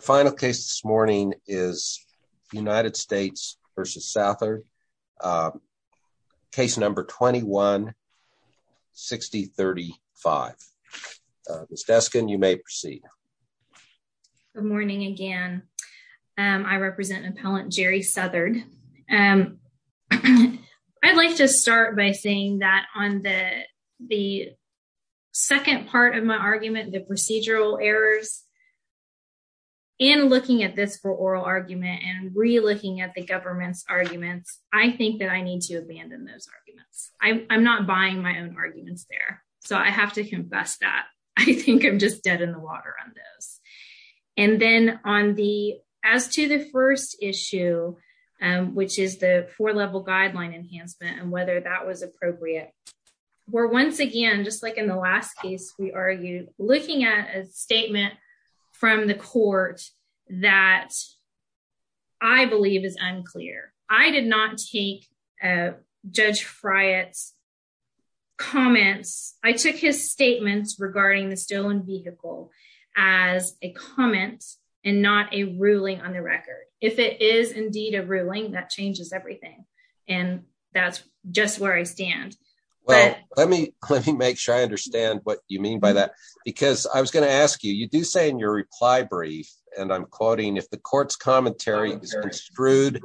Final case this morning is United States versus Southard. Case number 21. 6035 Miss Deskin, you may proceed. Good morning again, I represent appellant Jerry Southard and I'd like to start by saying that on the the. Second part of my argument, the procedural errors. And looking at this for oral argument and re looking at the government's arguments, I think that I need to abandon those arguments i'm not buying my own arguments there, so I have to confess that I think i'm just dead in the water on those. And then, on the as to the first issue, which is the four level guideline enhancement and whether that was appropriate. we're once again, just like in the last case, we are you looking at a statement from the Court that I believe is unclear, I did not take. Judge friars comments I took his statements regarding the stolen vehicle as a comment and not a ruling on the record, if it is indeed a ruling that changes everything and that's just where I stand. Well, let me, let me make sure I understand what you mean by that, because I was going to ask you, you do say in your reply brief and i'm quoting if the courts commentary. screwed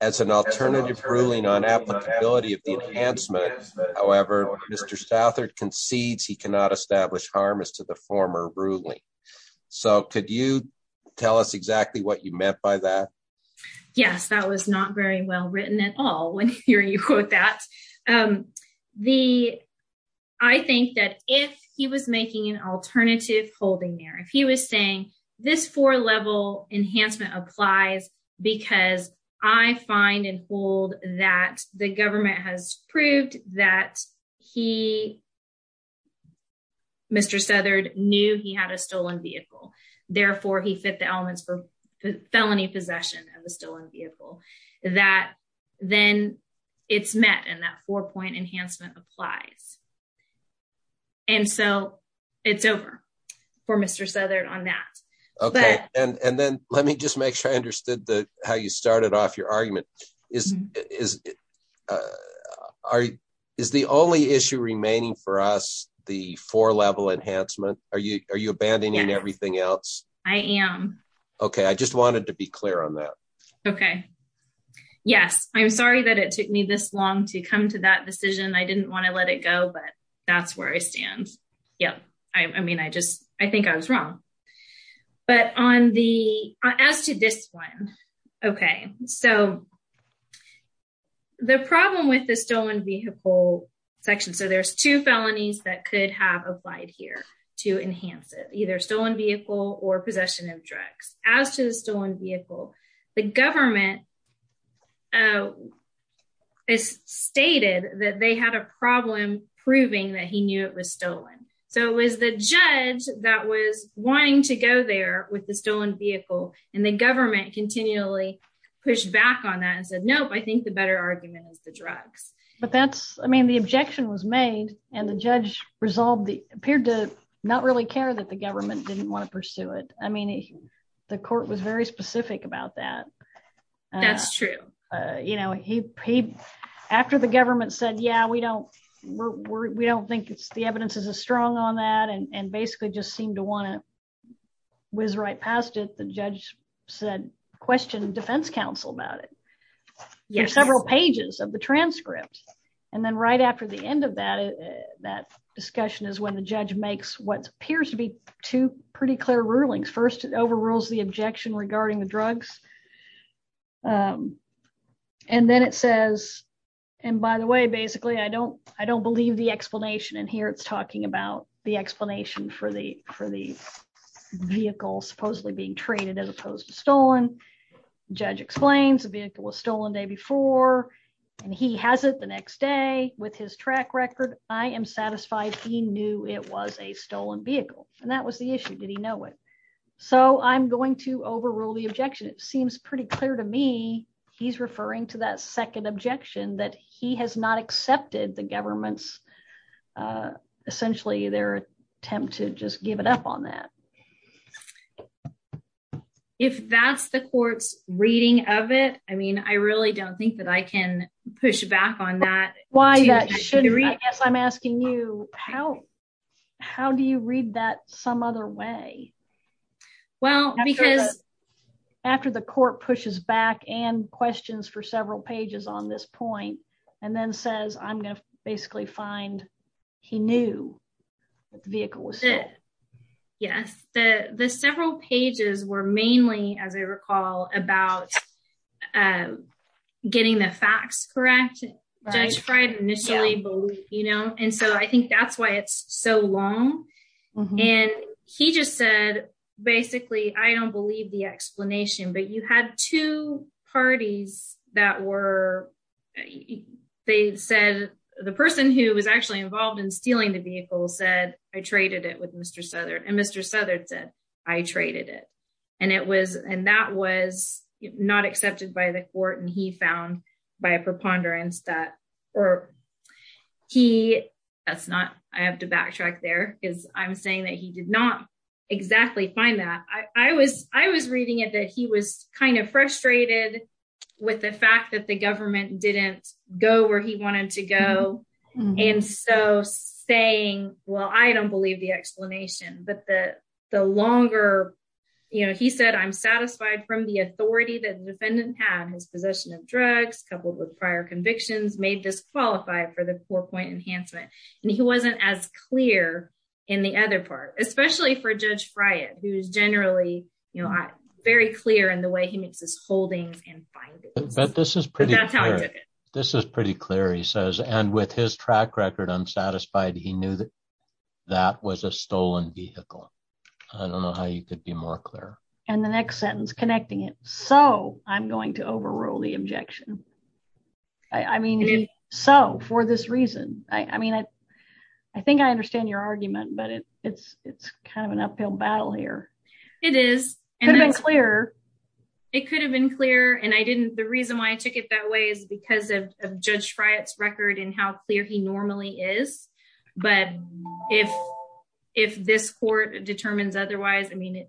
as an alternative ruling on. However, Mr Southard concedes he cannot establish harm is to the former ruling, so could you tell us exactly what you meant by that. Yes, that was not very well written at all when you're you quote that. And the I think that if he was making an alternative holding there if he was saying this for level enhancement applies, because I find and hold that the government has proved that he. Mr Southard knew he had a stolen vehicle, therefore, he fit the elements for felony possession of a stolen vehicle that then it's met and that four point enhancement applies. And so it's over for Mr so there on that. Okay, and then, let me just make sure I understood the how you started off your argument is is. Are is the only issue remaining for us the four level enhancement are you are you abandoning everything else. I am. Okay, I just wanted to be clear on that. Okay, yes i'm sorry that it took me this long to come to that decision I didn't want to let it go but that's where I stand yep I mean I just I think I was wrong, but on the as to this one okay so. The problem with the stolen vehicle section so there's two felonies that could have applied here to enhance it either stolen vehicle or possession of drugs, as to the stolen vehicle, the government. Is stated that they had a problem, proving that he knew it was stolen, so it was the judge, that was wanting to go there with the stolen vehicle and the government continually push back on that and said nope I think the better argument is the drugs. But that's I mean the objection was made and the judge resolved the appeared to not really care that the government didn't want to pursue it, I mean the Court was very specific about that. that's true. You know he paid after the government said yeah we don't we don't think it's the evidence is a strong on that and basically just seem to want to. whiz right past it, the judge said question Defense Council about it, yes, several pages of the transcript and then right after the end of that. That discussion is when the judge makes what appears to be two pretty clear rulings first it overrules the objection regarding the drugs. And then it says, and by the way, basically I don't I don't believe the explanation and here it's talking about the explanation for the for the. Vehicle supposedly being traded as opposed to stolen judge explains a vehicle was stolen day before. And he has it the next day with his track record, I am satisfied, he knew it was a stolen vehicle, and that was the issue, did he know it. So i'm going to overrule the objection, it seems pretty clear to me he's referring to that second objection that he has not accepted the government's. Essentially, their attempt to just give it up on that. If that's the courts reading of it, I mean I really don't think that I can push back on that. Why that should I guess i'm asking you how, how do you read that some other way. Well, because. After the Court pushes back and questions for several pages on this point and then says i'm going to basically find he knew the vehicle was it. Yes, the the several pages were mainly as I recall about. And getting the facts correct. Right right initially, but you know, and so I think that's why it's so long and he just said, basically, I don't believe the explanation, but you had two parties that were. They said the person who was actually involved in stealing the vehicle said I traded it with Mr southern and Mr southern said I traded it. And it was, and that was not accepted by the Court and he found by a preponderance that or he that's not I have to backtrack there is i'm saying that he did not. Exactly find that I was, I was reading it that he was kind of frustrated with the fact that the government didn't go where he wanted to go. And so, saying, well, I don't believe the explanation, but the the longer. You know, he said i'm satisfied from the authority that defendant had his possession of drugs, coupled with prior convictions made this qualify for the four point enhancement. And he wasn't as clear in the other part, especially for judge fry it, who is generally you know I very clear and the way he makes his holdings and. But this is pretty. This is pretty clear, he says, and with his track record unsatisfied he knew that that was a stolen vehicle I don't know how you could be more clear. And the next sentence connecting it so i'm going to overrule the objection. I mean so for this reason, I mean I, I think I understand your argument, but it's it's it's kind of an uphill battle here. It is clear. It could have been clear and I didn't the reason why I took it that way is because of judge fry it's record and how clear he normally is, but if if this court determines otherwise I mean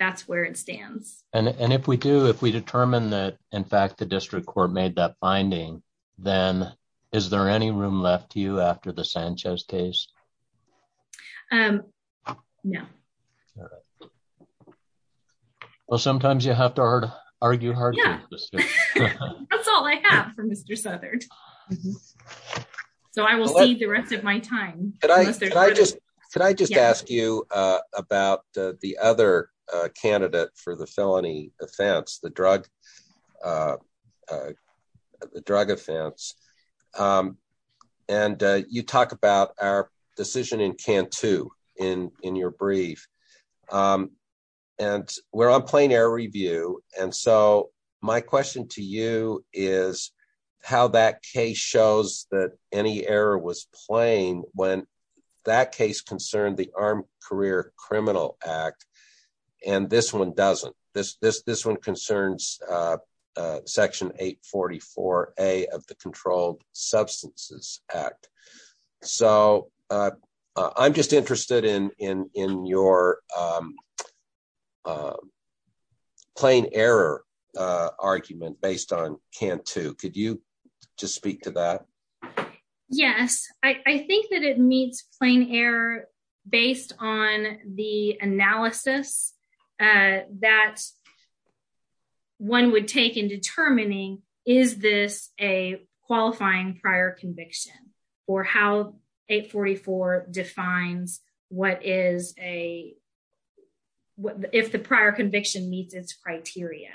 that's where it stands. And if we do if we determine that, in fact, the district court made that finding, then, is there any room left to you after the Sanchez case. And yeah. Well, sometimes you have to argue hard. that's all I have for Mr southern. So I will see the rest of my time. But I just I just asked you about the other candidate for the felony offense the drug. The drug offense. And you talk about our decision in can to in in your brief. And we're on plane air review, and so my question to you is how that case shows that any error was playing when that case concerned the arm career criminal act and this one doesn't this this this one concerns section 844 a of the controlled substances act so i'm just interested in in in your. Plane error argument based on can to could you just speak to that. Yes, I think that it meets plane air based on the analysis that. One would take in determining is this a qualifying prior conviction or how 844 defines what is a. What if the prior conviction meets its criteria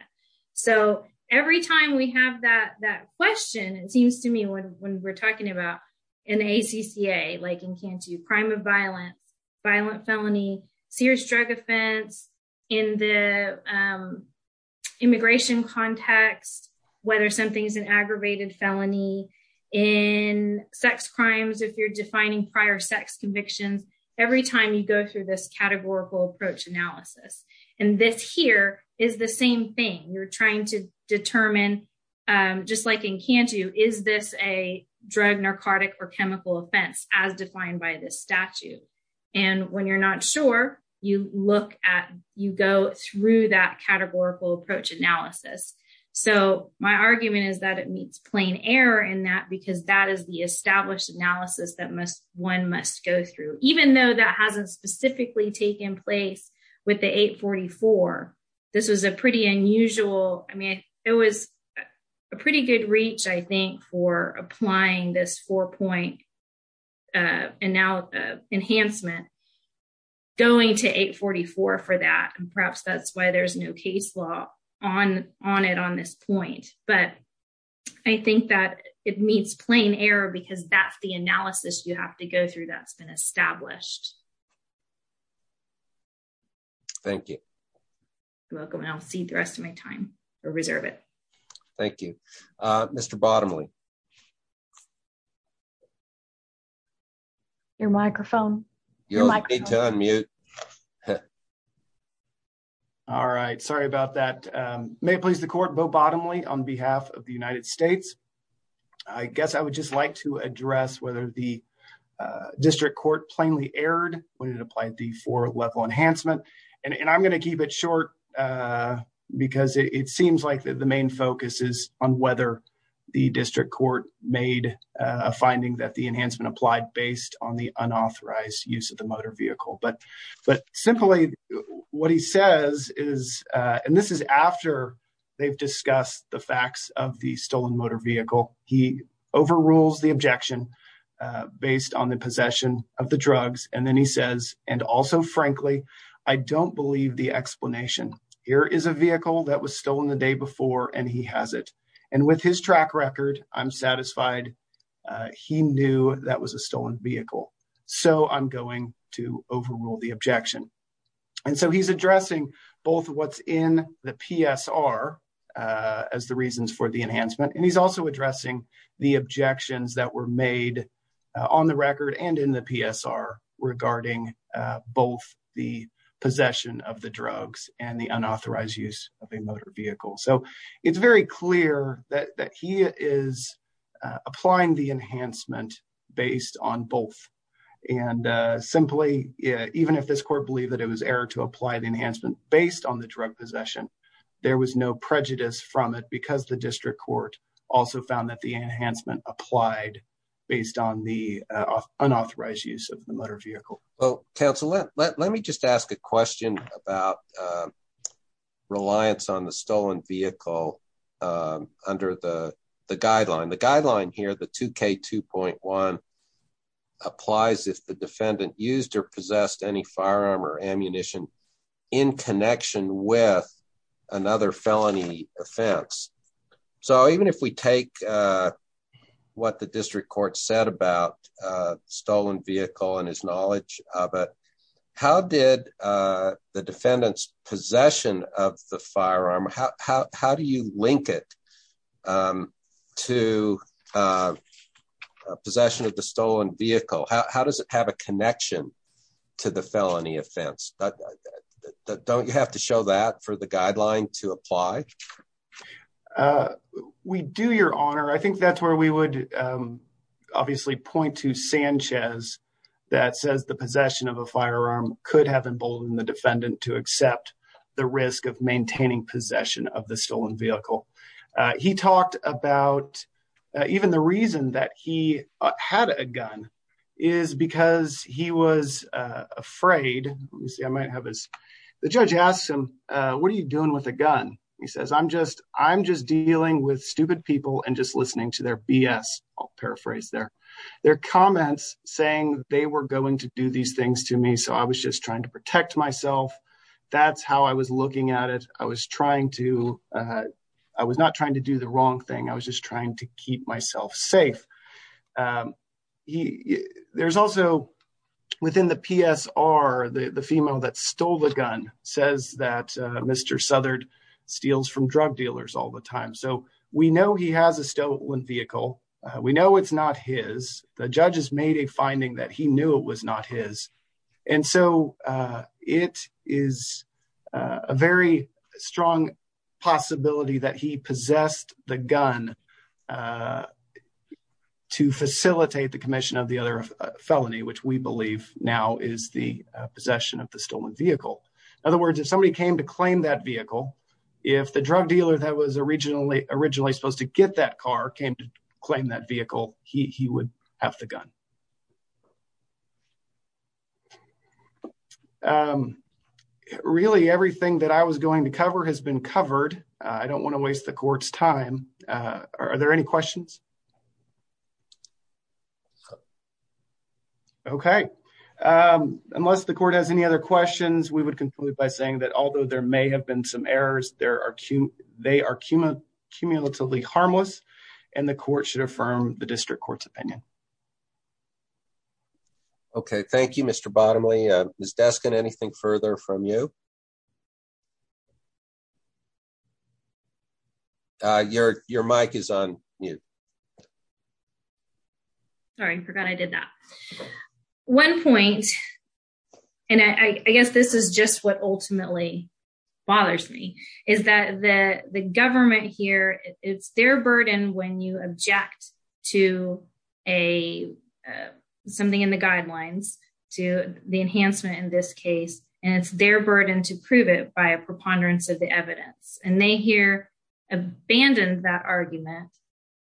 so every time we have that that question, it seems to me when when we're talking about in a CCA like in can to crime of violence violent felony serious drug offense in the. Immigration context, whether something's an aggravated felony in sex crimes if you're defining prior sex convictions every time you go through this categorical approach analysis, and this here is the same thing you're trying to determine. Just like in can to is this a drug narcotic or chemical offense as defined by this statute. And when you're not sure you look at you go through that categorical approach analysis, so my argument is that it meets plane air in that because that is the established analysis that must one must go through, even though that hasn't specifically taken place with the 844. This was a pretty unusual I mean it was a pretty good reach, I think, for applying this four point. And now enhancement going to 844 for that and perhaps that's why there's no case law on on it on this point, but I think that it meets plane air because that's the analysis, you have to go through that's been established. Thank you. Welcome and i'll see the rest of my time or reserve it. Thank you, Mr bottomly. Your microphone. You need to unmute. All right, sorry about that may please the Court bow bottomly on behalf of the United States, I guess, I would just like to address whether the. Short because it seems like the main focus is on whether the district court made a finding that the enhancement applied based on the unauthorized use of the motor vehicle but but simply what he says is, and this is after they've discussed the facts of the stolen motor vehicle he overrules the objection. Based on the possession of the drugs and then he says, and also frankly I don't believe the explanation here is a vehicle that was stolen the day before, and he has it and with his track record i'm satisfied. He knew that was a stolen vehicle so i'm going to overrule the objection and so he's addressing both what's in the PS are. As the reasons for the enhancement and he's also addressing the objections that were made on the record and in the PS are regarding. Both the possession of the drugs and the unauthorized use of a motor vehicle so it's very clear that he is applying the enhancement based on both. And simply, even if this court believe that it was error to apply the enhancement based on the drug possession. There was no prejudice from it because the district court also found that the enhancement applied based on the unauthorized use of the motor vehicle. Well, Council let let me just ask a question about. Reliance on the stolen vehicle under the the guideline the guideline here the 2k 2.1 applies if the defendant used or possessed any firearm or ammunition in connection with another felony offense so even if we take. What the district court said about stolen vehicle and his knowledge of it, how did the defendants possession of the firearm, how do you link it. To. Possession of the stolen vehicle, how does it have a connection to the felony offense. That don't you have to show that for the guideline to apply. We do your Honor I think that's where we would. Obviously point to Sanchez that says the possession of a firearm could have emboldened the defendant to accept the risk of maintaining possession of the stolen vehicle. He talked about even the reason that he had a gun is because he was afraid, you see, I might have is. The judge asked him what are you doing with a gun, he says i'm just i'm just dealing with stupid people and just listening to their bs I'll paraphrase their. Their comments saying they were going to do these things to me, so I was just trying to protect myself that's how I was looking at it, I was trying to. I was not trying to do the wrong thing I was just trying to keep myself safe. He there's also within the PS are the female that stole the gun says that Mr southern steals from drug dealers all the time, so we know he has a stolen vehicle. We know it's not his the judges made a finding that he knew it was not his, and so it is a very strong possibility that he possessed the gun. To facilitate the Commission of the other felony which we believe now is the possession of the stolen vehicle, in other words, if somebody came to claim that vehicle. If the drug dealer that was originally originally supposed to get that car came to claim that vehicle, he would have the gun. Really, everything that I was going to cover has been covered I don't want to waste the court's time, are there any questions. Okay. Unless the Court has any other questions, we would conclude by saying that, although there may have been some errors, there are two they are cumulatively harmless and the Court should affirm the district court's opinion. Okay, thank you, Mr bottomly is desk and anything further from you. Your your MIC is on you. Sorry I forgot I did that. One point. And I guess this is just what ultimately bothers me is that the the government here it's their burden when you object to a. Enhancement in this case and it's their burden to prove it by a preponderance of the evidence and they hear abandoned that argument,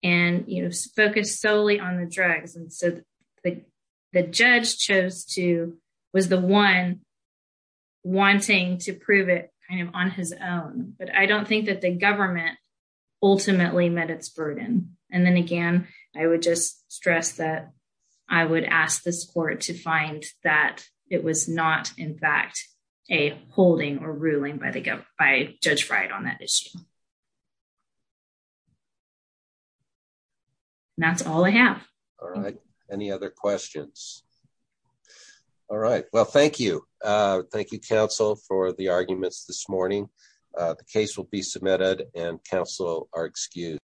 and you focus solely on the drugs and so the the judge chose to was the one. wanting to prove it kind of on his own, but I don't think that the government ultimately met its burden and then again, I would just stress that I would ask this court to find that it was not in fact a holding or ruling by the government by judge right on that issue. that's all I have. Any other questions. All right, well, thank you, thank you counsel for the arguments this morning, the case will be submitted and counsel are excused.